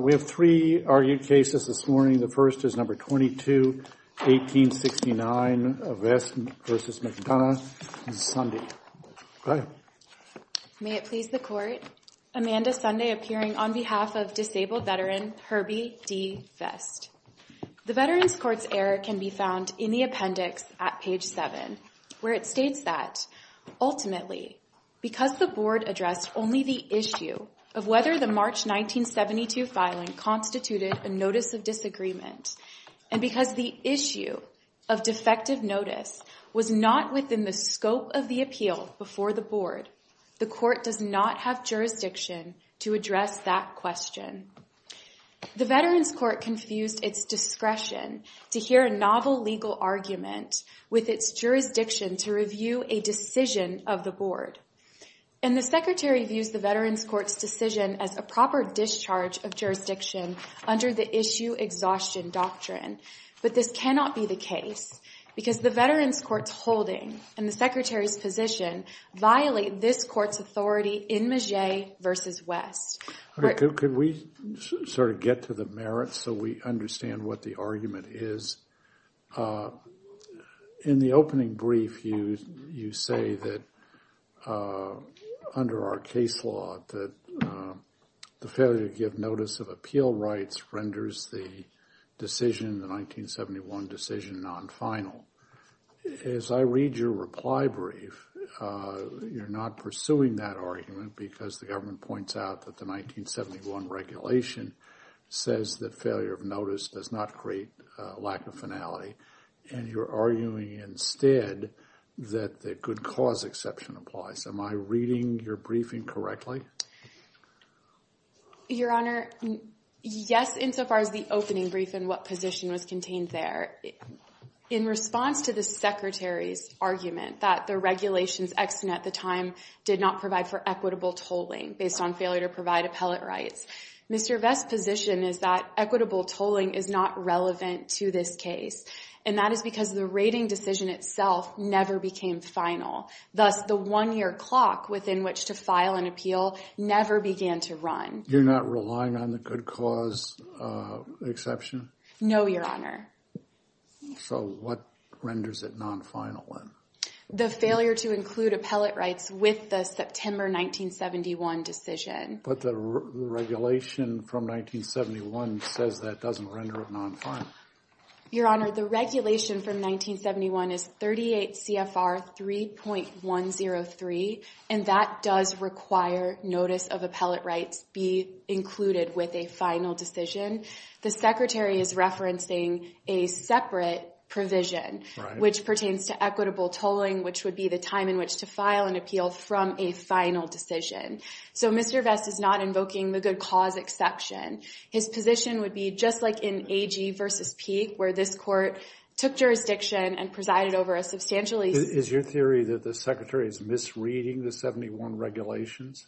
We have three argued cases this morning. The first is No. 22-1869, Vest v. McDonough. This is Sunday. May it please the Court, Amanda Sunday appearing on behalf of disabled veteran Herbie D. Vest. The Veterans Court's error can be found in the appendix at page 7, where it states that, Ultimately, because the Board addressed only the issue of whether the March 1972 filing constituted a Notice of Disagreement, and because the issue of defective notice was not within the scope of the appeal before the Board, the Court does not have jurisdiction to address that question. The Veterans Court confused its discretion to hear a novel legal argument with its jurisdiction to review a decision of the Board. And the Secretary views the Veterans Court's decision as a proper discharge of jurisdiction under the Issue Exhaustion Doctrine. But this cannot be the case, because the Veterans Court's holding and the Secretary's position violate this Court's authority in Magie v. Vest. Could we sort of get to the merits so we understand what the argument is? In the opening brief, you say that, under our case law, that the failure to give notice of appeal rights renders the decision, the 1971 decision, non-final. As I read your reply brief, you're not pursuing that argument because the government points out that the 1971 regulation says that failure of notice does not create lack of finality, and you're arguing instead that the good cause exception applies. Am I reading your briefing correctly? Your Honor, yes, insofar as the opening brief and what position was contained there. In response to the Secretary's argument that the regulations ex-sin at the time did not provide for equitable tolling based on failure to provide appellate rights, Mr. Vest's position is that equitable tolling is not relevant to this case, and that is because the rating decision itself never became final. Thus, the one-year clock within which to file an appeal never began to run. You're not relying on the good cause exception? No, Your Honor. So what renders it non-final then? The failure to include appellate rights with the September 1971 decision. But the regulation from 1971 says that doesn't render it non-final. Your Honor, the regulation from 1971 is 38 CFR 3.103, and that does require notice of appellate rights be included with a final decision. The Secretary is referencing a separate provision, which pertains to equitable tolling, which would be the time in which to file an appeal from a final decision. So Mr. Vest is not invoking the good cause exception. His position would be just like in AG v. Peek, where this court took jurisdiction and presided over a substantially— Is your theory that the Secretary is misreading the 71 regulations?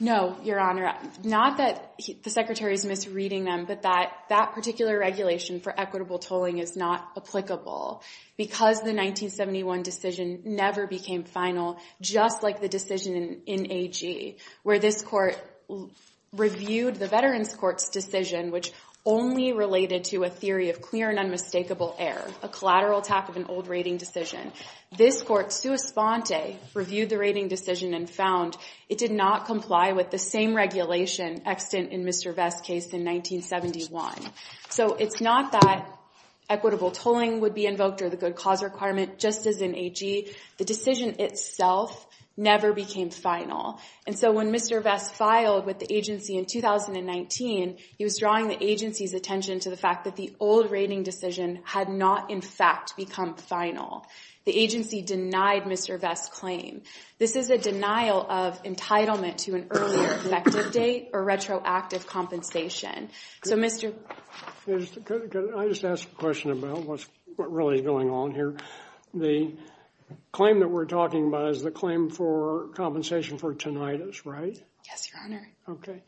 No, Your Honor. Not that the Secretary is misreading them, but that that particular regulation for equitable tolling is not applicable, because the 1971 decision never became final, just like the decision in AG, where this court reviewed the Veterans Court's decision, which only related to a theory of clear and unmistakable error, a collateral attack of an old rating decision. This court, sua sponte, reviewed the rating decision and found it did not comply with the same regulation extant in Mr. Vest's case in 1971. So it's not that equitable tolling would be invoked or the good cause requirement, just as in AG. The decision itself never became final. And so when Mr. Vest filed with the agency in 2019, he was drawing the agency's attention to the fact that the old rating decision had not, in fact, become final. The agency denied Mr. Vest's claim. This is a denial of entitlement to an earlier effective date or retroactive compensation. So, Mr.— Could I just ask a question about what really is going on here? The claim that we're talking about is the claim for compensation for tinnitus, right? Yes, Your Honor. Okay.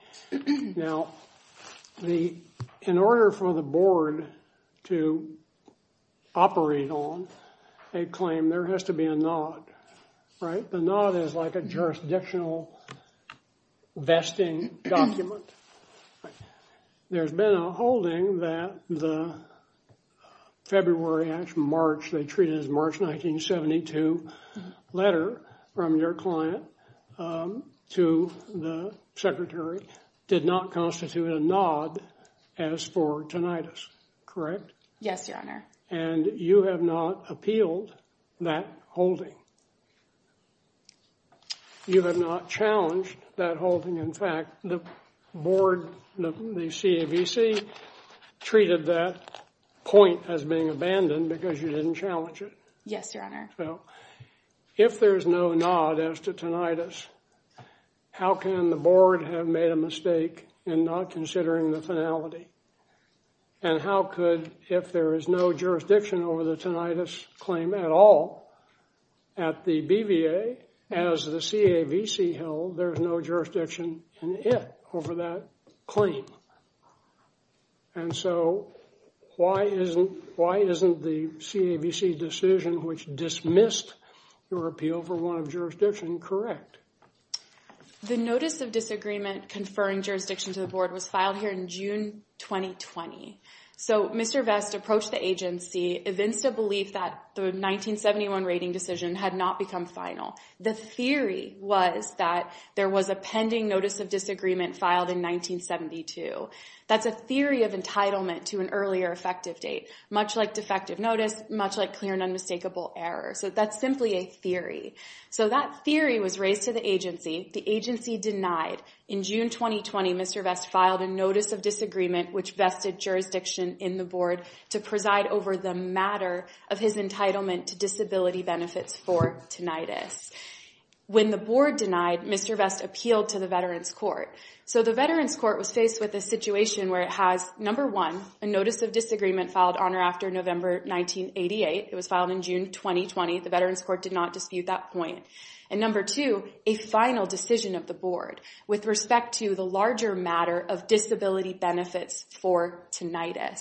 Now, in order for the board to operate on a claim, there has to be a nod, right? The nod is like a jurisdictional vesting document. There's been a holding that the February-March—they treat it as March 1972—letter from your client to the secretary did not constitute a nod as for tinnitus, correct? Yes, Your Honor. And you have not appealed that holding. You have not challenged that holding. In fact, the board, the CAVC, treated that point as being abandoned because you didn't challenge it. Yes, Your Honor. So, if there's no nod as to tinnitus, how can the board have made a mistake in not considering the finality? And how could, if there is no jurisdiction over the tinnitus claim at all, at the BVA, as the CAVC held, there's no jurisdiction in it over that claim? And so, why isn't the CAVC decision, which dismissed your appeal for one of jurisdiction, correct? The notice of disagreement conferring jurisdiction to the board was filed here in June 2020. So, Mr. Vest approached the agency, evinced a belief that the 1971 rating decision had not become final. The theory was that there was a pending notice of disagreement filed in 1972. That's a theory of entitlement to an earlier effective date, much like defective notice, much like clear and unmistakable error. So, that's simply a theory. So, that theory was raised to the agency. The agency denied. In June 2020, Mr. Vest filed a notice of disagreement, which vested jurisdiction in the board to preside over the matter of his entitlement to disability benefits for tinnitus. When the board denied, Mr. Vest appealed to the Veterans Court. So, the Veterans Court was faced with a situation where it has, number one, a notice of disagreement filed on or after November 1988. It was filed in June 2020. The Veterans Court did not dispute that point. And number two, a final decision of the board with respect to the larger matter of disability benefits for tinnitus.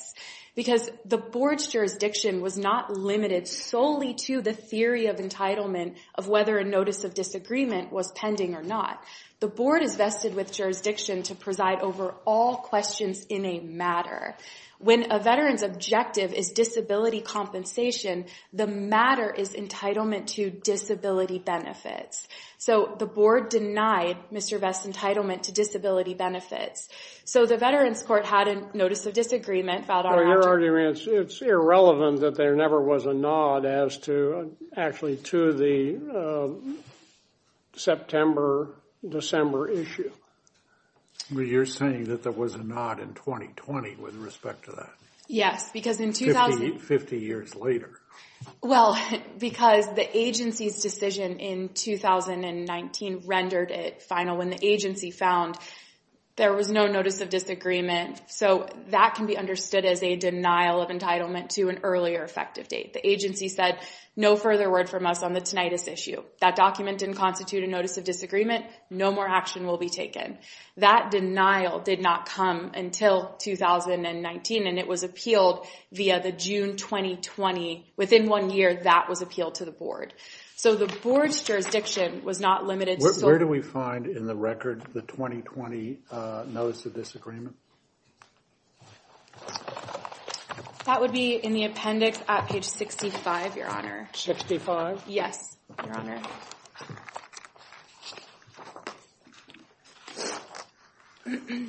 Because the board's jurisdiction was not limited solely to the theory of entitlement of whether a notice of disagreement was pending or not. The board is vested with jurisdiction to preside over all questions in a matter. When a veteran's objective is disability compensation, the matter is entitlement to disability benefits. So, the board denied Mr. Vest's entitlement to disability benefits. So, the Veterans Court had a notice of disagreement filed on or after. Well, your argument, it's irrelevant that there never was a nod as to, actually, to the September-December issue. Well, you're saying that there was a nod in 2020 with respect to that. Yes, because in 2000— Fifty years later. Well, because the agency's decision in 2019 rendered it final when the agency found there was no notice of disagreement. So, that can be understood as a denial of entitlement to an earlier effective date. The agency said, no further word from us on the tinnitus issue. That document didn't constitute a notice of disagreement. No more action will be taken. That denial did not come until 2019, and it was appealed via the June 2020. Within one year, that was appealed to the board. So, the board's jurisdiction was not limited solely— Where do we find in the record the 2020 notice of disagreement? That would be in the appendix at page 65, Your Honor. Sixty-five? Yes, Your Honor. Okay.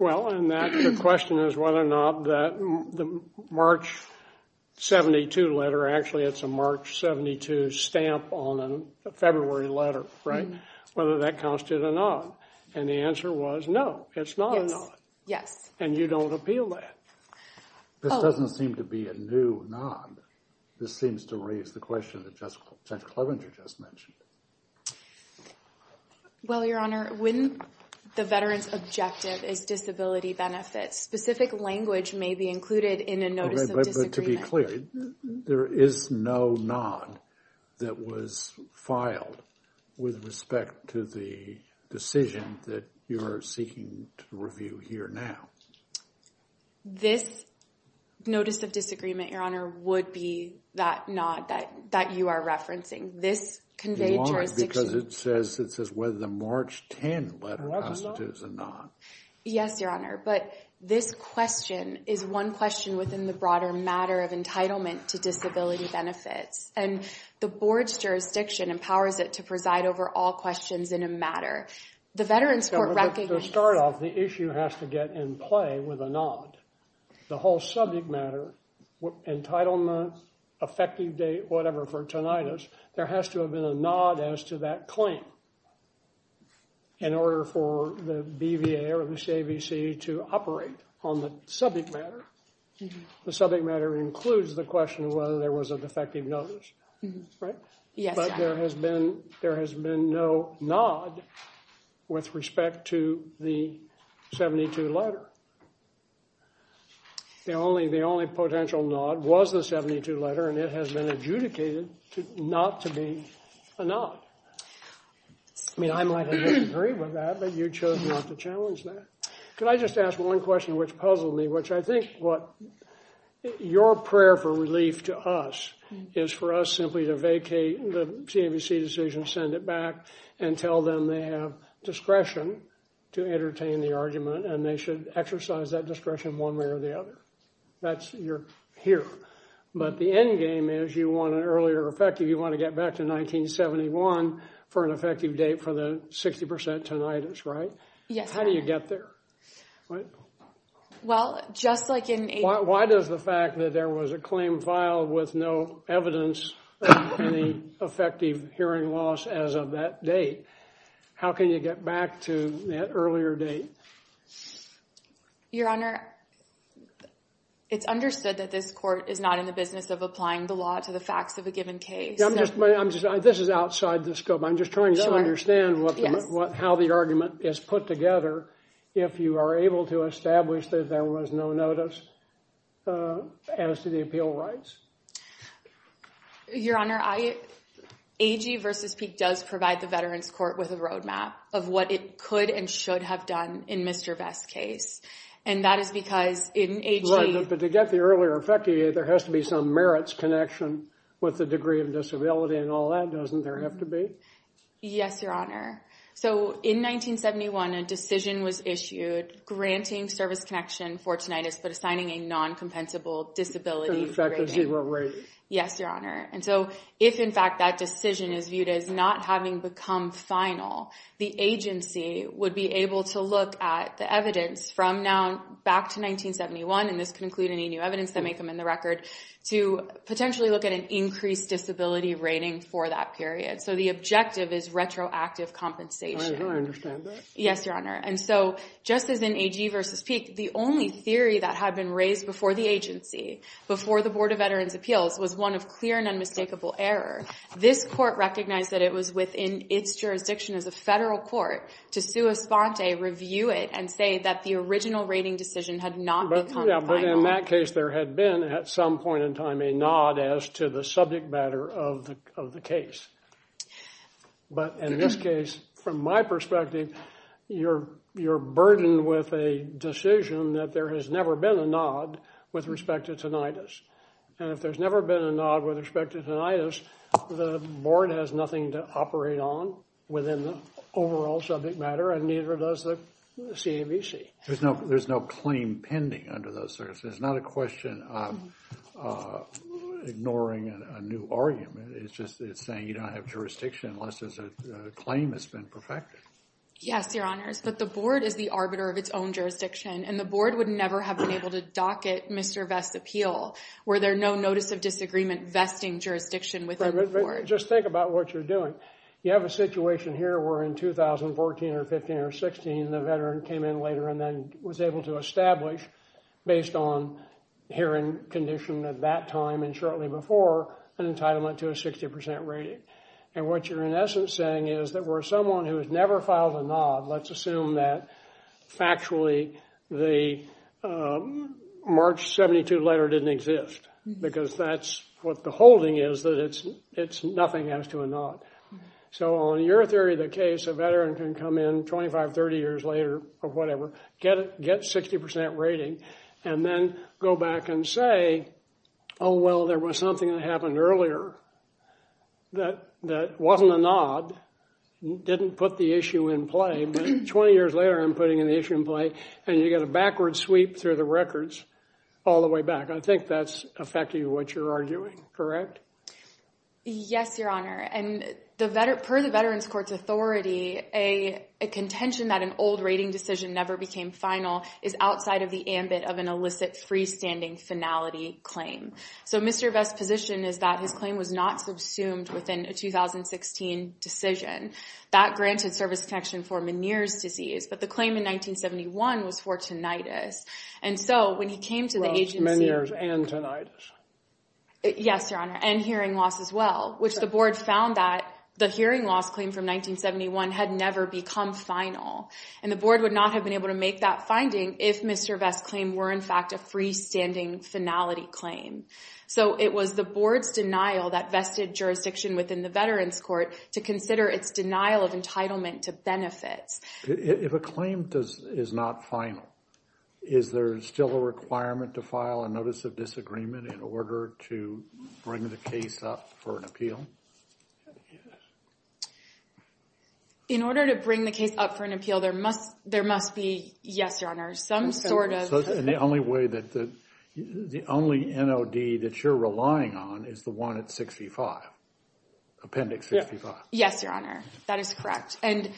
Well, and the question is whether or not that March 72 letter— Actually, it's a March 72 stamp on a February letter, right? Whether that constituted a nod. And the answer was, no, it's not a nod. Yes. And you don't appeal that. This doesn't seem to be a new nod. This seems to raise the question that Judge Clevenger just mentioned. Well, Your Honor, when the veteran's objective is disability benefits, specific language may be included in a notice of disagreement. But to be clear, there is no nod that was filed with respect to the decision that you're seeking to review here now. This notice of disagreement, Your Honor, would be that nod that you are referencing. This conveyed jurisdiction— Your Honor, because it says whether the March 10 letter constitutes a nod. Yes, Your Honor. But this question is one question within the broader matter of entitlement to disability benefits. And the board's jurisdiction empowers it to preside over all questions in a matter. The Veterans Court recognizes— To start off, the issue has to get in play with a nod. The whole subject matter, entitlement, effective date, whatever, for tinnitus, there has to have been a nod as to that claim in order for the BVA or the CAVC to operate on the subject matter. The subject matter includes the question of whether there was a defective notice, right? Yes, Your Honor. But there has been no nod with respect to the 72 letter. The only potential nod was the 72 letter, and it has been adjudicated not to be a nod. I mean, I might have disagreed with that, but you chose not to challenge that. Could I just ask one question which puzzled me, which I think what— your prayer for relief to us is for us simply to vacate the CAVC decision, send it back, and tell them they have discretion to entertain the argument, and they should exercise that discretion one way or the other. That's your—here. But the endgame is you want an earlier effective. You want to get back to 1971 for an effective date for the 60% tinnitus, right? Yes, Your Honor. How do you get there? Well, just like in— Why does the fact that there was a claim filed with no evidence of any effective hearing loss as of that date, how can you get back to that earlier date? Your Honor, it's understood that this court is not in the business of applying the law to the facts of a given case. I'm just—this is outside the scope. I'm just trying to understand how the argument is put together if you are able to establish that there was no notice as to the appeal rights. Your Honor, AG v. Peek does provide the Veterans Court with a roadmap of what it could and should have done in Mr. Vest's case, and that is because in AG— But to get the earlier effective date, there has to be some merits connection with the degree of disability and all that, doesn't there have to be? Yes, Your Honor. So in 1971, a decision was issued granting service connection for tinnitus but assigning a non-compensable disability rating. An effective zero rating. Yes, Your Honor. And so if, in fact, that decision is viewed as not having become final, the agency would be able to look at the evidence from now back to 1971 and this could include any new evidence that may come in the record, to potentially look at an increased disability rating for that period. So the objective is retroactive compensation. I understand that. Yes, Your Honor. And so just as in AG v. Peek, the only theory that had been raised before the agency, before the Board of Veterans' Appeals, was one of clear and unmistakable error. This court recognized that it was within its jurisdiction as a federal court to sue a sponte, review it, and say that the original rating decision had not become final. But in that case, there had been, at some point in time, a nod as to the subject matter of the case. But in this case, from my perspective, you're burdened with a decision that there has never been a nod with respect to tinnitus. And if there's never been a nod with respect to tinnitus, the Board has nothing to operate on within the overall subject matter and neither does the CAVC. There's no claim pending under those circumstances. It's not a question of ignoring a new argument. It's just that it's saying you don't have jurisdiction unless there's a claim that's been perfected. Yes, Your Honors. But the Board is the arbiter of its own jurisdiction, and the Board would never have been able to docket Mr. Vest's appeal were there no notice of disagreement vesting jurisdiction within the Board. Just think about what you're doing. You have a situation here where in 2014 or 15 or 16, the veteran came in later and then was able to establish, based on hearing condition at that time and shortly before, an entitlement to a 60% rating. And what you're, in essence, saying is that where someone who has never filed a nod, let's assume that factually the March 72 letter didn't exist because that's what the holding is that it's nothing as to a nod. So on your theory of the case, a veteran can come in 25, 30 years later or whatever, get a 60% rating, and then go back and say, oh, well, there was something that happened earlier that wasn't a nod, didn't put the issue in play, but 20 years later I'm putting an issue in play, and you get a backward sweep through the records all the way back. I think that's affecting what you're arguing, correct? Yes, Your Honor. And per the Veterans Court's authority, a contention that an old rating decision never became final is outside of the ambit of an illicit freestanding finality claim. So Mr. Vest's position is that his claim was not subsumed within a 2016 decision. That granted service protection for Meniere's disease, but the claim in 1971 was for tinnitus. And so when he came to the agency – Well, it's Meniere's and tinnitus. Yes, Your Honor, and hearing loss as well, which the board found that the hearing loss claim from 1971 had never become final. And the board would not have been able to make that finding if Mr. Vest's claim were, in fact, a freestanding finality claim. So it was the board's denial that vested jurisdiction within the Veterans Court to consider its denial of entitlement to benefits. If a claim is not final, is there still a requirement to file a notice of disagreement in order to bring the case up for an appeal? In order to bring the case up for an appeal, there must be, yes, Your Honor, some sort of – So in the only way that the – the only NOD that you're relying on is the one at 65, Appendix 65. Yes, Your Honor, that is correct. And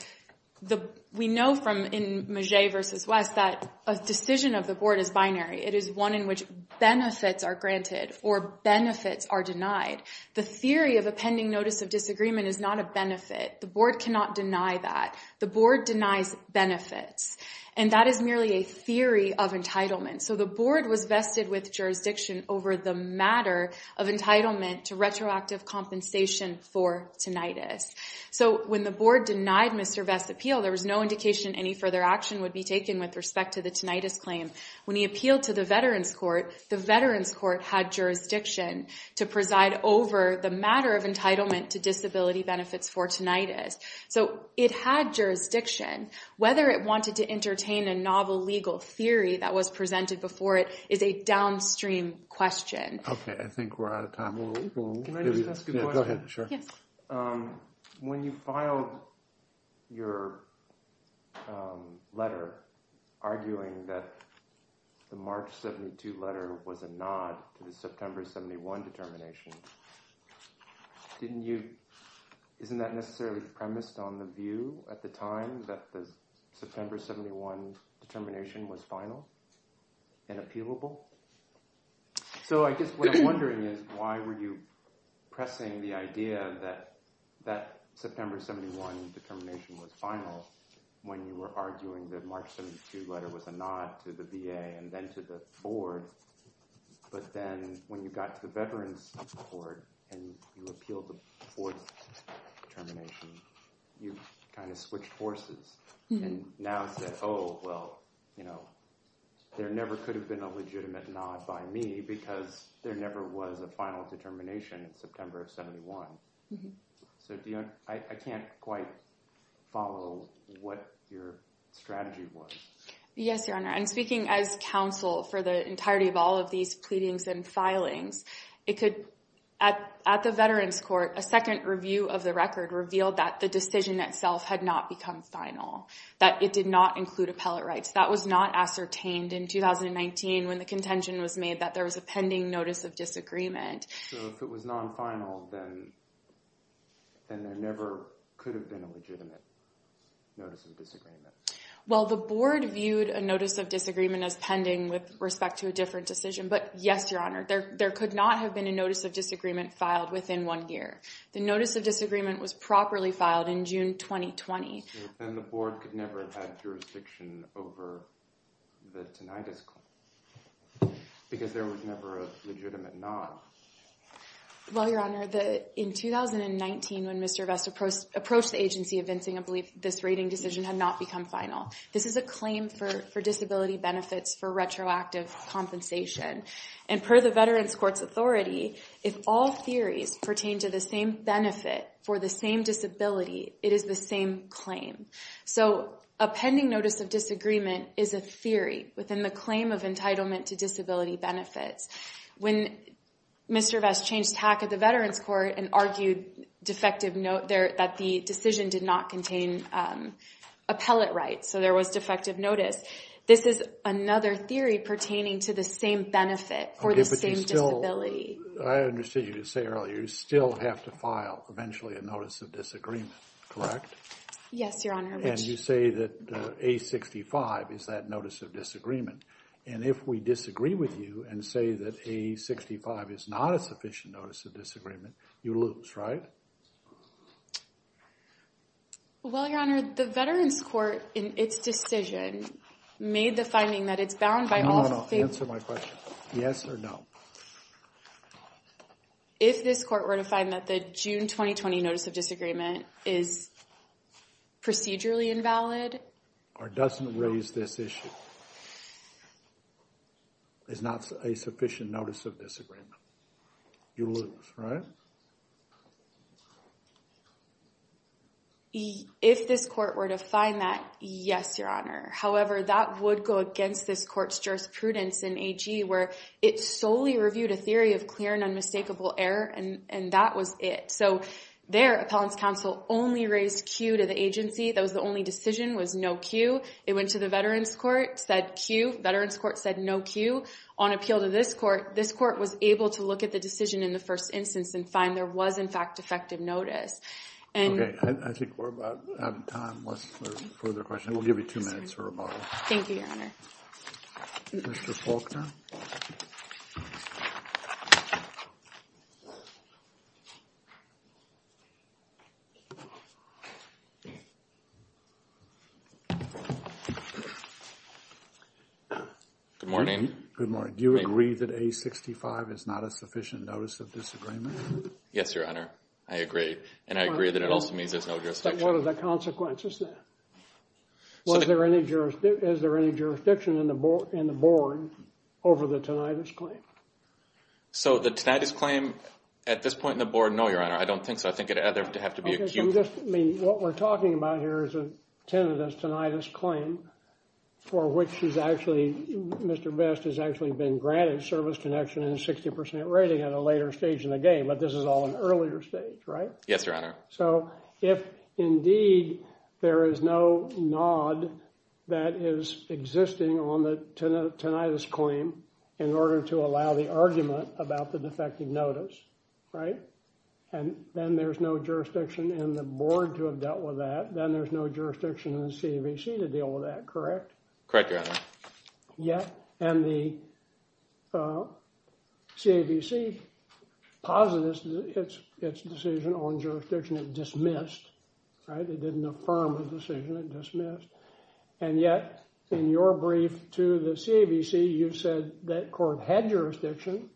we know from – in Magee v. Vest that a decision of the board is binary. It is one in which benefits are granted or benefits are denied. The theory of a pending notice of disagreement is not a benefit. The board cannot deny that. The board denies benefits. And that is merely a theory of entitlement. So the board was vested with jurisdiction over the matter of entitlement to retroactive compensation for tinnitus. So when the board denied Mr. Vest's appeal, there was no indication any further action would be taken with respect to the tinnitus claim. When he appealed to the Veterans Court, the Veterans Court had jurisdiction to preside over the matter of entitlement to disability benefits for tinnitus. So it had jurisdiction. Whether it wanted to entertain a novel legal theory that was presented before it is a downstream question. Okay, I think we're out of time. Can I just ask a question? Go ahead, sure. Yes. When you filed your letter arguing that the March 72 letter was a nod to the September 71 determination, isn't that necessarily premised on the view at the time that the September 71 determination was final and appealable? So I guess what I'm wondering is why were you pressing the idea that that September 71 determination was final when you were arguing that March 72 letter was a nod to the VA and then to the board, but then when you got to the Veterans Court and you appealed the board's determination, you kind of switched forces and now said, oh, well, you know, there never could have been a legitimate nod by me because there never was a final determination in September of 71. So I can't quite follow what your strategy was. Yes, Your Honor. And speaking as counsel for the entirety of all of these pleadings and filings, it could, at the Veterans Court, a second review of the record revealed that the decision itself had not become final, that it did not include appellate rights. That was not ascertained in 2019 when the contention was made that there was a pending notice of disagreement. So if it was non-final, then there never could have been a legitimate notice of disagreement. Well, the board viewed a notice of disagreement as pending with respect to a different decision, but yes, Your Honor, there could not have been a notice of disagreement filed within one year. The notice of disagreement was properly filed in June, 2020. Then the board could never have had jurisdiction over the tinnitus claim because there was never a legitimate nod. Well, Your Honor, in 2019, when Mr. Vest approached the agency of vincing a belief, this rating decision had not become final. This is a claim for disability benefits for retroactive compensation. And per the Veterans Court's authority, if all theories pertain to the same benefit for the same disability, it is the same claim. So a pending notice of disagreement is a theory within the claim of entitlement to disability benefits. When Mr. Vest changed tack at the Veterans Court and argued that the decision did not contain appellate rights, so there was defective notice, this is another theory pertaining to the same benefit for the same disability. I understood you say earlier, you still have to file eventually a notice of disagreement, correct? Yes, Your Honor. And you say that A65 is that notice of disagreement. And if we disagree with you and say that A65 is not a sufficient notice of disagreement, you lose, right? Well, Your Honor, the Veterans Court in its decision made the finding that it's bound by all Answer my question. Yes or no? If this court were to find that the June 2020 notice of disagreement is procedurally invalid. Or doesn't raise this issue. It's not a sufficient notice of disagreement. You lose, right? If this court were to find that, yes, Your Honor. However, that would go against this court's jurisprudence in AG, where it solely reviewed a theory of clear and unmistakable error, and that was it. So their appellant's counsel only raised Q to the agency, that was the only decision, was no Q. It went to the Veterans Court, said Q. Veterans Court said no Q. On appeal to this court, this court was able to look at the decision in the first instance and find there was in fact defective notice. Okay, I think we're about out of time. Unless there are further questions. We'll give you two minutes for rebuttal. Thank you, Your Honor. Mr. Faulkner. Good morning. Good morning. Do you agree that A65 is not a sufficient notice of disagreement? Yes, Your Honor. I agree. And I agree that it also means there's no jurisdiction. What are the consequences then? Is there any jurisdiction in the board over the tinnitus claim? So the tinnitus claim at this point in the board, no, Your Honor. I don't think so. I think it would have to be a Q. Okay, so what we're talking about here is a tinnitus, tinnitus claim for which Mr. Best has actually been granted service connection and a 60% rating at a later stage in the game, but this is all an earlier stage, right? Yes, Your Honor. So if indeed there is no nod that is existing on the tinnitus claim in order to allow the argument about the defective notice, right, and then there's no jurisdiction in the board to have dealt with that, then there's no jurisdiction in the CAVC to deal with that, correct? Correct, Your Honor. And the CAVC posited its decision on jurisdiction. It dismissed, right? It didn't affirm the decision. It dismissed. And yet in your brief to the CAVC, you said that court had jurisdiction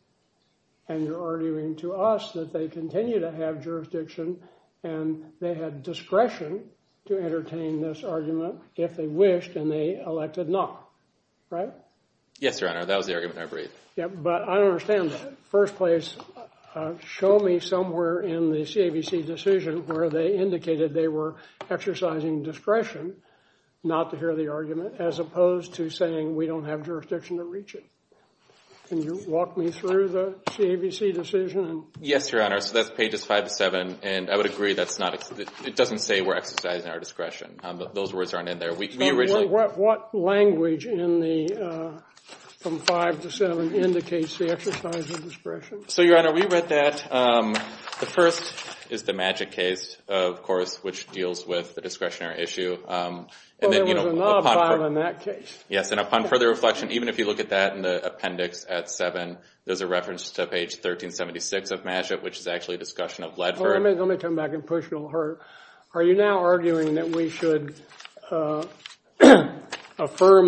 and you're arguing to us that they continue to have jurisdiction and they had discretion to entertain this argument if they wished and they elected not, right? Yes, Your Honor. That was the argument in my brief. Yeah, but I don't understand that. First place, show me somewhere in the CAVC decision where they indicated they were exercising discretion not to hear the argument as opposed to saying we don't have jurisdiction to reach it. Can you walk me through the CAVC decision? Yes, Your Honor. So that's pages 5 to 7, and I would agree that's not – it doesn't say we're exercising our discretion. Those words aren't in there. What language in the – from 5 to 7 indicates the exercise of discretion? So, Your Honor, we read that. The first is the Magic case, of course, which deals with the discretionary issue. Oh, there was a knob filed in that case. Yes, and upon further reflection, even if you look at that in the appendix at 7, there's a reference to page 1376 of Magic, which is actually a discussion of Ledford. Let me come back and push you a little harder. Are you now arguing that we should affirm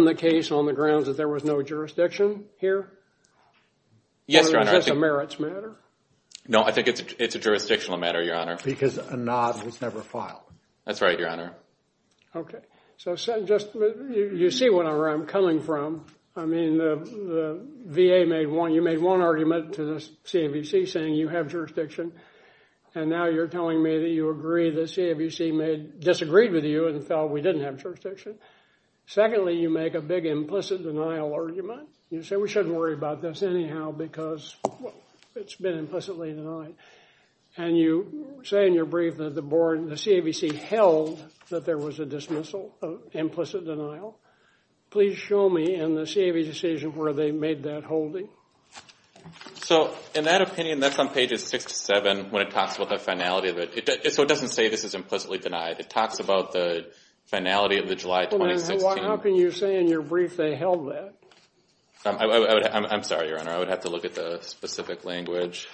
the case on the grounds that there was no jurisdiction here? Yes, Your Honor. Or is this a merits matter? No, I think it's a jurisdictional matter, Your Honor. Because a knob was never filed. That's right, Your Honor. Okay. So you see where I'm coming from. I mean, the VA made one – you made one argument to the CAVC saying you have jurisdiction, and now you're telling me that you agree the CAVC disagreed with you and felt we didn't have jurisdiction. Secondly, you make a big implicit denial argument. You say we shouldn't worry about this anyhow because it's been implicitly denied. And you say in your brief that the CAVC held that there was a dismissal, an implicit denial. Please show me in the CAVC where they made that holding. So in that opinion, that's on pages 6 to 7 when it talks about the finality of it. So it doesn't say this is implicitly denied. It talks about the finality of the July 2016. How can you say in your brief they held that? I'm sorry, Your Honor. I would have to look at the specific language.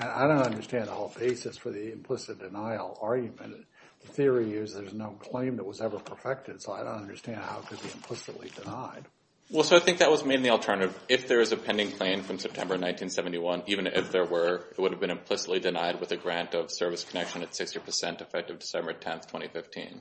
I don't understand the whole basis for the implicit denial argument. The theory is there's no claim that was ever perfected, so I don't understand how it could be implicitly denied. Well, so I think that was maybe the alternative. If there is a pending claim from September 1971, even if there were, it would have been implicitly denied with a grant of service connection at 60% effective December 10, 2015.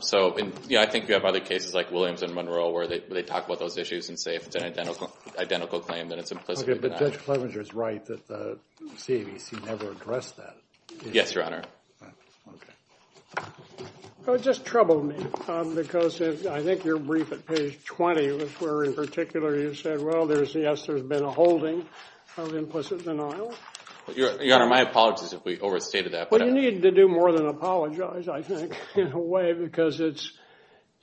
So I think you have other cases like Williams and Monroe where they talk about those issues and say if it's an identical claim, then it's implicitly denied. Okay, but Judge Clevenger is right that the CAVC never addressed that. Yes, Your Honor. Okay. It just troubled me because I think your brief at page 20 was where in particular you said, well, yes, there's been a holding of implicit denial. Your Honor, my apologies if we overstated that. Well, you need to do more than apologize, I think, in a way, because it's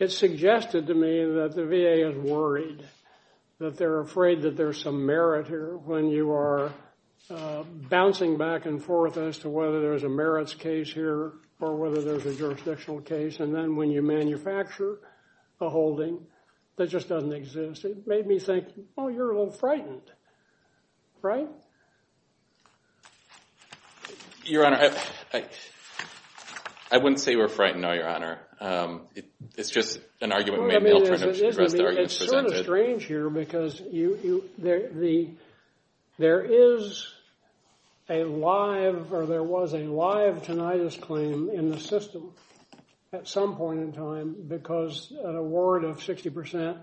suggested to me that the VA is worried that they're afraid that there's some merit here when you are bouncing back and forth as to whether there's a merits case here or whether there's a jurisdictional case. And then when you manufacture a holding that just doesn't exist, it made me think, oh, you're a little frightened, right? Your Honor, I wouldn't say we're frightened, no, Your Honor. It's just an argument made in the alternative. It's sort of strange here because there is a live or there was a live tinnitus claim in the system at some point in time because an award of 60%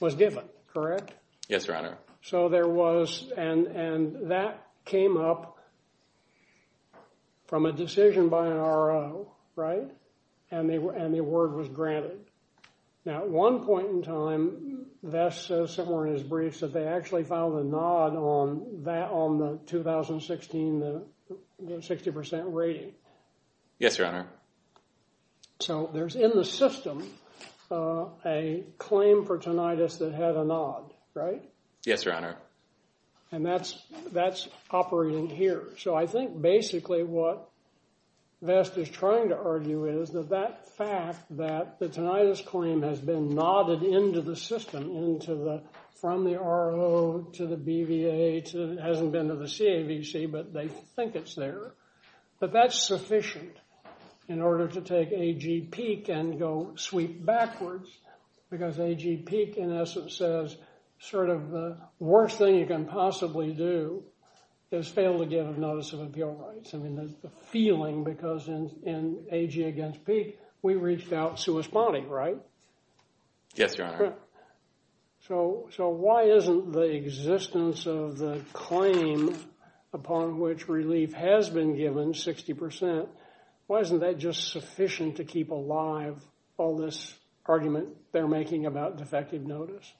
was given, correct? Yes, Your Honor. So there was and that came up from a decision by an RO, right? And the award was granted. Now, at one point in time, Vest says somewhere in his briefs that they actually filed a nod on the 2016 60% rating. Yes, Your Honor. So there's in the system a claim for tinnitus that had a nod, right? Yes, Your Honor. And that's operating here. So I think basically what Vest is trying to argue is that that fact that the tinnitus claim has been nodded into the system, from the RO to the BVA, hasn't been to the CAVC, but they think it's there. But that's sufficient in order to take AG Peek and go sweep backwards because AG Peek, in essence, says sort of the worst thing you can possibly do is fail to give a notice of appeal rights. I mean, there's the feeling because in AG against Peek, we reached out to a spotting, right? Yes, Your Honor. So why isn't the existence of the claim upon which relief has been given, 60%, why isn't that just sufficient to keep alive all this argument they're making about defective notice?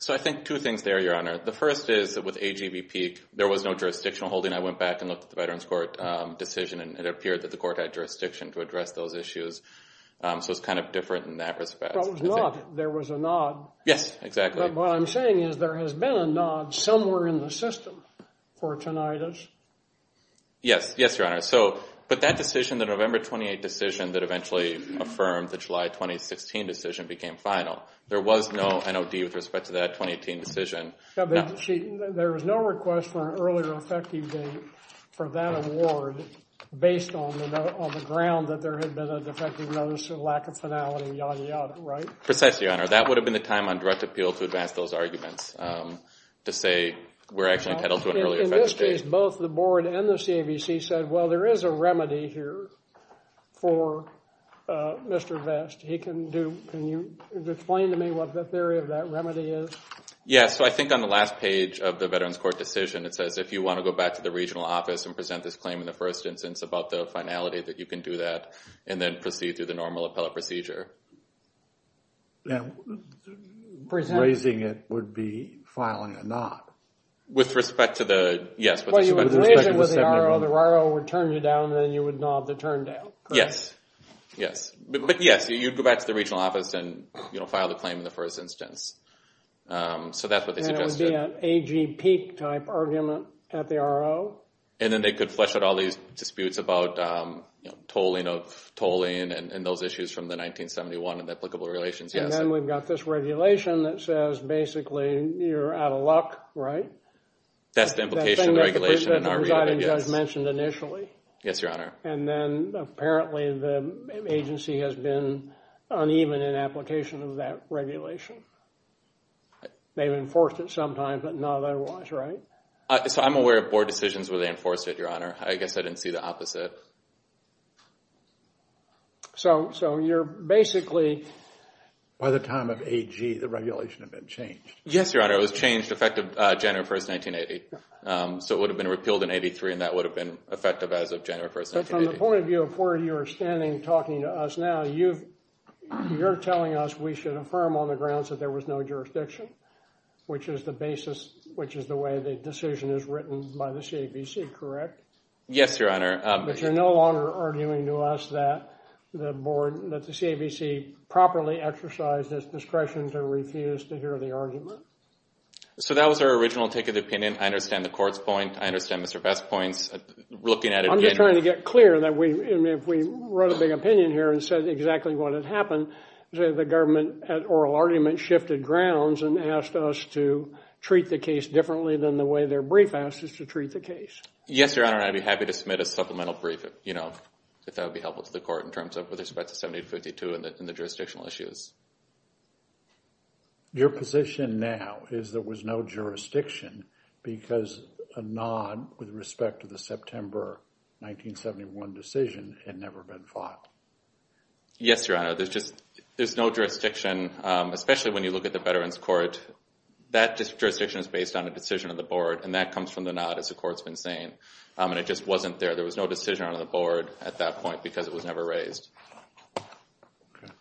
So I think two things there, Your Honor. The first is that with AG v. Peek, there was no jurisdictional holding. I went back and looked at the Veterans Court decision, and it appeared that the court had jurisdiction to address those issues. So it's kind of different in that respect. There was a nod. Yes, exactly. What I'm saying is there has been a nod somewhere in the system for tinnitus. Yes, Your Honor. But that decision, the November 28 decision that eventually affirmed the July 2016 decision became final. There was no NOD with respect to that 2018 decision. There was no request for an earlier effective date for that award based on the ground that there had been a defective notice and lack of finality, yada, yada, right? Precisely, Your Honor. That would have been the time on direct appeal to advance those arguments to say we're actually entitled to an earlier effective date. In this case, both the board and the CAVC said, well, there is a remedy here for Mr. Vest. Can you explain to me what the theory of that remedy is? Yes. So I think on the last page of the Veterans Court decision, it says if you want to go back to the regional office and present this claim in the first instance about the finality, that you can do that and then proceed through the normal appellate procedure. Raising it would be filing a NOD. With respect to the – yes. Well, you would raise it with the RO, the RO would turn you down, and then you would not have to turn down. Yes, yes. But, yes, you'd go back to the regional office and file the claim in the first instance. So that's what they suggested. And it would be an AGP-type argument at the RO. And then they could flesh out all these disputes about tolling of tolling and those issues from the 1971 and the applicable regulations. And then we've got this regulation that says basically you're out of luck, right? That's the implication of the regulation in our reading, I guess. That's the thing that the President and Residing Judge mentioned initially. Yes, Your Honor. And then apparently the agency has been uneven in application of that regulation. They've enforced it sometimes, but not otherwise, right? So I'm aware of board decisions where they enforced it, Your Honor. I guess I didn't see the opposite. So you're basically – By the time of AG, the regulation had been changed. Yes, Your Honor. It was changed effective January 1, 1980. So it would have been repealed in 83, and that would have been effective as of January 1, 1980. But from the point of view of where you're standing talking to us now, you're telling us we should affirm on the grounds that there was no jurisdiction, which is the basis – which is the way the decision is written by the CABC, correct? Yes, Your Honor. But you're no longer arguing to us that the board – that the CABC properly exercised its discretion to refuse to hear the argument. So that was our original take of the opinion. I understand the court's point. I understand Mr. Vest's point. Looking at it again – I'm just trying to get clear that if we wrote a big opinion here and said exactly what had happened, the government at oral argument shifted grounds and asked us to treat the case differently than the way their brief asks us to treat the case. Yes, Your Honor. I'd be happy to submit a supplemental brief, you know, if that would be helpful to the court in terms of with respect to 1752 and the jurisdictional issues. Your position now is there was no jurisdiction because a nod with respect to the September 1971 decision had never been filed. Yes, Your Honor. There's just – there's no jurisdiction, especially when you look at the Veterans Court. That jurisdiction is based on a decision of the board, and that comes from the nod, as the court's been saying. And it just wasn't there. There was no decision on the board at that point because it was never raised. Okay.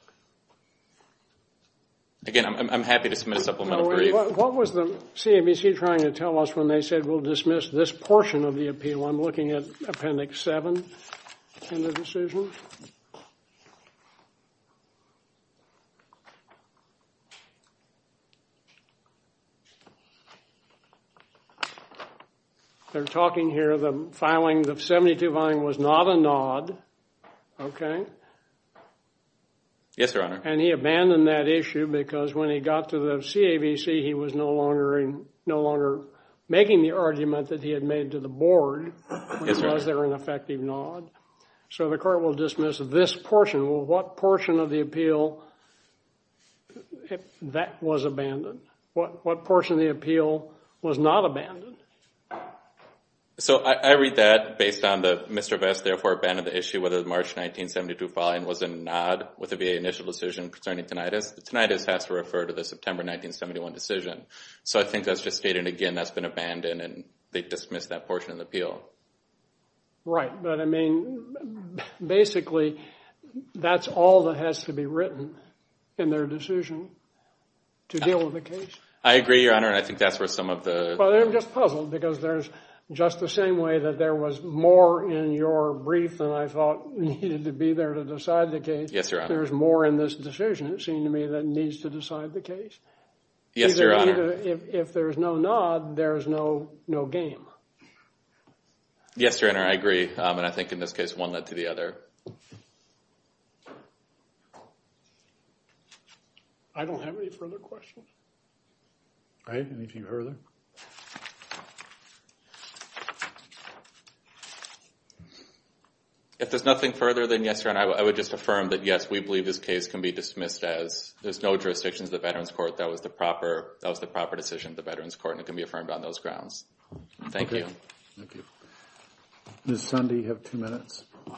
Again, I'm happy to submit a supplemental brief. What was the CABC trying to tell us when they said, we'll dismiss this portion of the appeal? I'm looking at Appendix 7 in the decision. They're talking here the filing – the 72 filing was not a nod. Okay. Yes, Your Honor. And he abandoned that issue because when he got to the CABC, he was no longer making the argument that he had made to the board. Yes, Your Honor. Was there an effective nod? So the court will dismiss this portion. Well, what portion of the appeal that was abandoned? What portion of the appeal was not abandoned? So I read that based on the Mr. Vest therefore abandoned the issue whether the March 1972 filing was a nod with the VA initial decision concerning tinnitus. Tinnitus has to refer to the September 1971 decision. So I think that's just stated again that's been abandoned and they dismissed that portion of the appeal. Right. But, I mean, basically that's all that has to be written in their decision to deal with the case. I agree, Your Honor, and I think that's where some of the – I'm just puzzled because there's just the same way that there was more in your brief than I thought needed to be there to decide the case. Yes, Your Honor. There's more in this decision, it seemed to me, that needs to decide the case. Yes, Your Honor. If there's no nod, there's no game. Yes, Your Honor, I agree. And I think in this case one led to the other. I don't have any further questions. All right. Any further? If there's nothing further than yes, Your Honor, I would just affirm that, yes, we believe this case can be dismissed as there's no jurisdiction to the Veterans Court. That was the proper decision of the Veterans Court, and it can be affirmed on those grounds. Thank you. Thank you. Ms. Sundy, you have two minutes. Thank you.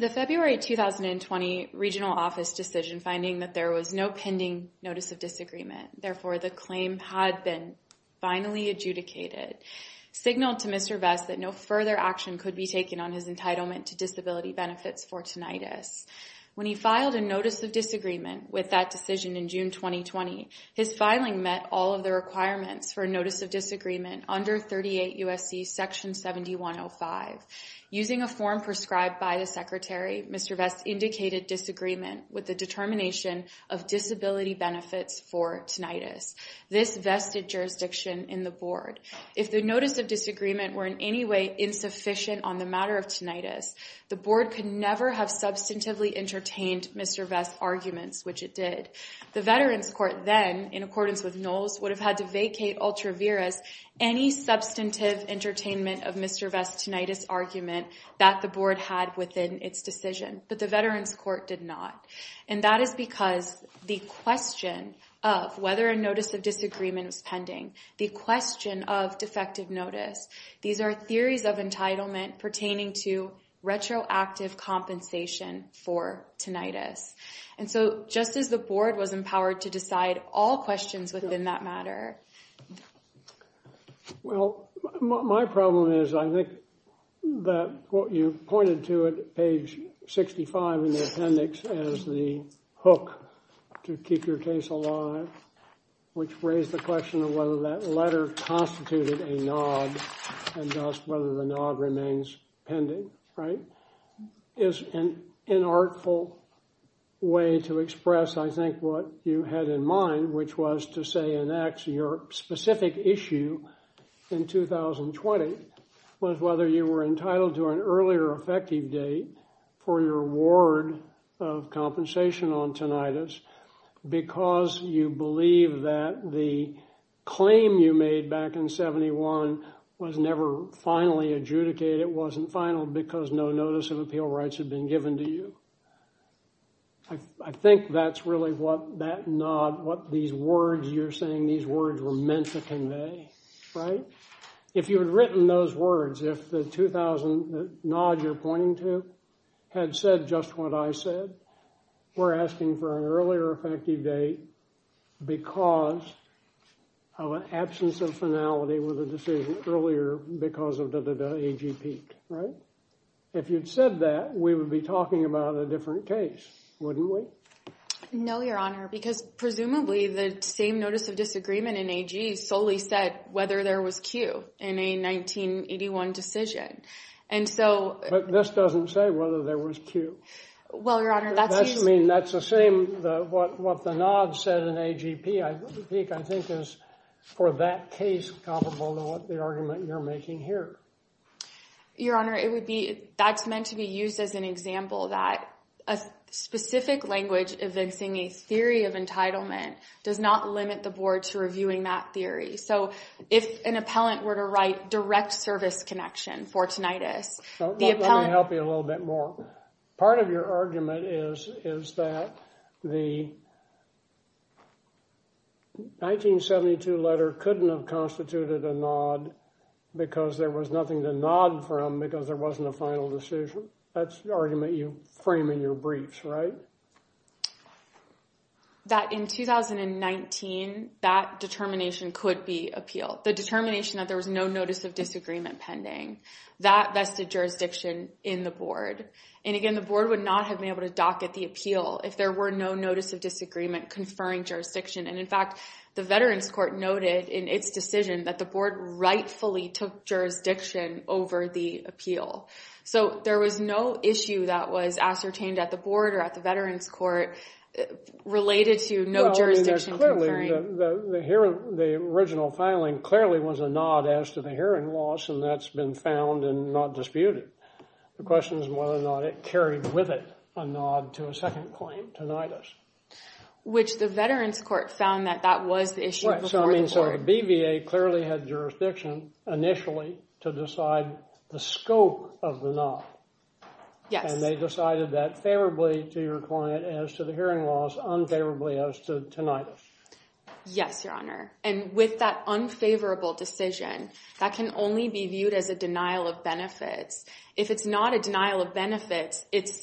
The February 2020 regional office decision finding that there was no pending notice of disagreement, therefore the claim had been finally adjudicated, signaled to Mr. Vest that no further action could be taken on his entitlement to disability benefits for tinnitus. When he filed a notice of disagreement with that decision in June 2020, his filing met all of the requirements for a notice of disagreement under 38 USC Section 7105. Using a form prescribed by the Secretary, Mr. Vest indicated disagreement with the determination of disability benefits for tinnitus. This vested jurisdiction in the board. If the notice of disagreement were in any way insufficient on the matter of substantively entertained Mr. Vest's arguments, which it did, the Veterans Court then, in accordance with Knowles, would have had to vacate ultra viris any substantive entertainment of Mr. Vest's tinnitus argument that the board had within its decision. But the Veterans Court did not. And that is because the question of whether a notice of disagreement was pending, the question of defective notice, these are theories of entitlement pertaining to retroactive compensation for tinnitus. And so just as the board was empowered to decide all questions within that matter. Well, my problem is I think that what you pointed to at page 65 in the appendix as the hook to keep your case alive, which raised the question of whether that letter constituted a nod and thus whether the nod remains pending, right? Is an inartful way to express, I think, what you had in mind, which was to say in X, your specific issue in 2020 was whether you were entitled to an earlier effective date for your award of compensation on tinnitus because you believe that the claim you made back in 71 was never finally adjudicated, it wasn't final because no notice of appeal rights had been given to you. I think that's really what that nod, what these words you're saying, these words were meant to convey, right? If you had written those words, if the 2000 nod you're pointing to had said just what I said, we're asking for an earlier effective date because of an earlier date, right? If you'd said that, we would be talking about a different case, wouldn't we? No, Your Honor, because presumably the same notice of disagreement in AG solely said whether there was Q in a 1981 decision. And so... But this doesn't say whether there was Q. Well, Your Honor, that's usually... I mean, that's the same, what the nod said in AGP, I think, is for that case comparable to what the argument you're making here. Your Honor, that's meant to be used as an example that a specific language evincing a theory of entitlement does not limit the board to reviewing that theory. So if an appellant were to write direct service connection for tinnitus, the appellant... Let me help you a little bit more. Part of your argument is that the 1972 letter couldn't have constituted a nod because there was nothing to nod from because there wasn't a final decision. That's the argument you frame in your briefs, right? That in 2019, that determination could be appealed. The determination that there was no notice of disagreement pending. That vested jurisdiction in the board. And, again, the board would not have been able to dock at the appeal if there were no notice of disagreement conferring jurisdiction. And, in fact, the Veterans Court noted in its decision that the board rightfully took jurisdiction over the appeal. So there was no issue that was ascertained at the board or at the Veterans Court related to no jurisdiction conferring. The original filing clearly was a nod as to the hearing loss, and that's been found and not disputed. The question is whether or not it carried with it a nod to a second claim, tinnitus. Which the Veterans Court found that that was the issue before the board. So the BVA clearly had jurisdiction initially to decide the scope of the nod. Yes. And they decided that favorably to your client as to the hearing loss, unfavorably as to tinnitus. Yes, Your Honor. And with that unfavorable decision, that can only be viewed as a denial of benefits. If it's not a denial of benefits, it's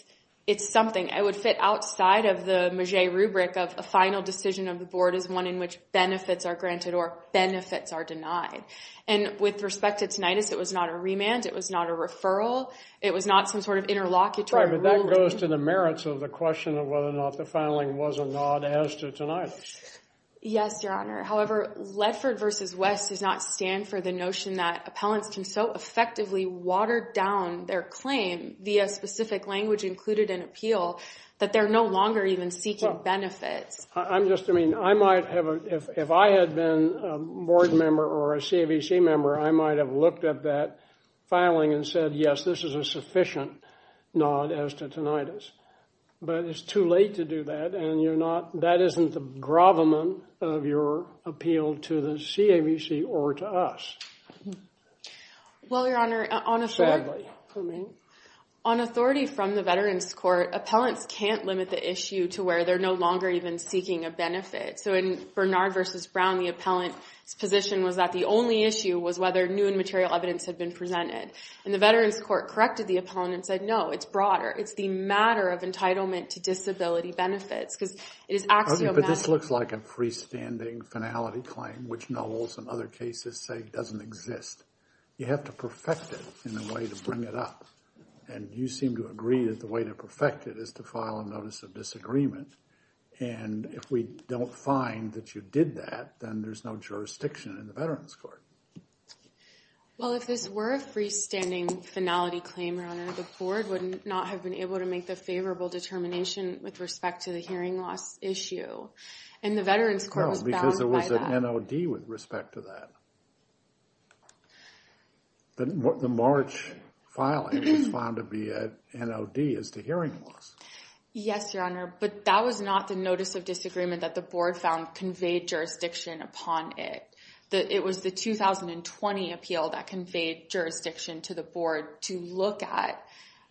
something. It would fit outside of the Magie rubric of a final decision of the board is one in which benefits are granted or benefits are denied. And with respect to tinnitus, it was not a remand. It was not a referral. It was not some sort of interlocutor ruling. Right, but that goes to the merits of the question of whether or not the filing was a nod as to tinnitus. Yes, Your Honor. However, Ledford v. West does not stand for the notion that appellants can so effectively water down their claim via specific language included in appeal that they're no longer even seeking benefits. I'm just, I mean, I might have, if I had been a board member or a CAVC member, I might have looked at that filing and said, yes, this is a sufficient nod as to tinnitus. But it's too late to do that, and you're not, that isn't the gravamen of your appeal to the CAVC or to us. Well, Your Honor, on authority from the Veterans Court, appellants can't limit the issue to where they're no longer even seeking a benefit. So in Bernard v. Brown, the appellant's position was that the only issue was whether new and material evidence had been presented. And the Veterans Court corrected the appellant and said, no, it's broader. It's the matter of entitlement to disability benefits because it is axiomatic. But this looks like a freestanding finality claim, which Knowles and other cases say doesn't exist. You have to perfect it in a way to bring it up. And you seem to agree that the way to perfect it is to file a notice of disagreement. And if we don't find that you did that, then there's no jurisdiction in the Veterans Court. Well, if this were a freestanding finality claim, Your Honor, the board would not have been able to make the favorable determination with respect to the hearing loss issue. And the Veterans Court was bound by that. No, because there was an NOD with respect to that. The March filing was found to be an NOD as to hearing loss. Yes, Your Honor, but that was not the notice of disagreement that the board found conveyed jurisdiction upon it. It was the 2020 appeal that conveyed jurisdiction to the board to look at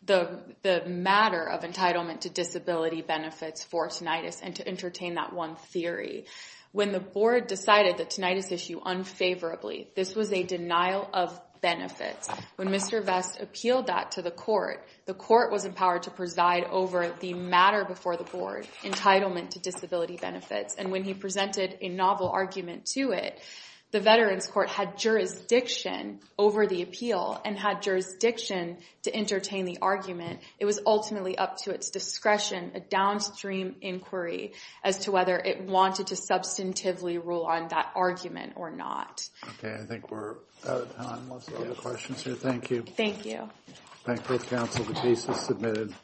the matter of entitlement to disability benefits for tinnitus and to entertain that one theory. When the board decided the tinnitus issue unfavorably, this was a denial of benefits. When Mr. Vest appealed that to the court, the court was empowered to preside over the matter before the board, entitlement to disability benefits. And when he presented a novel argument to it, the Veterans Court had jurisdiction over the appeal and had jurisdiction to entertain the argument. It was ultimately up to its discretion, a downstream inquiry, as to whether it wanted to substantively rule on that argument or not. Okay, I think we're out of time. Let's go to questions here. Thank you. Thank you. Thank you, counsel. The case is submitted.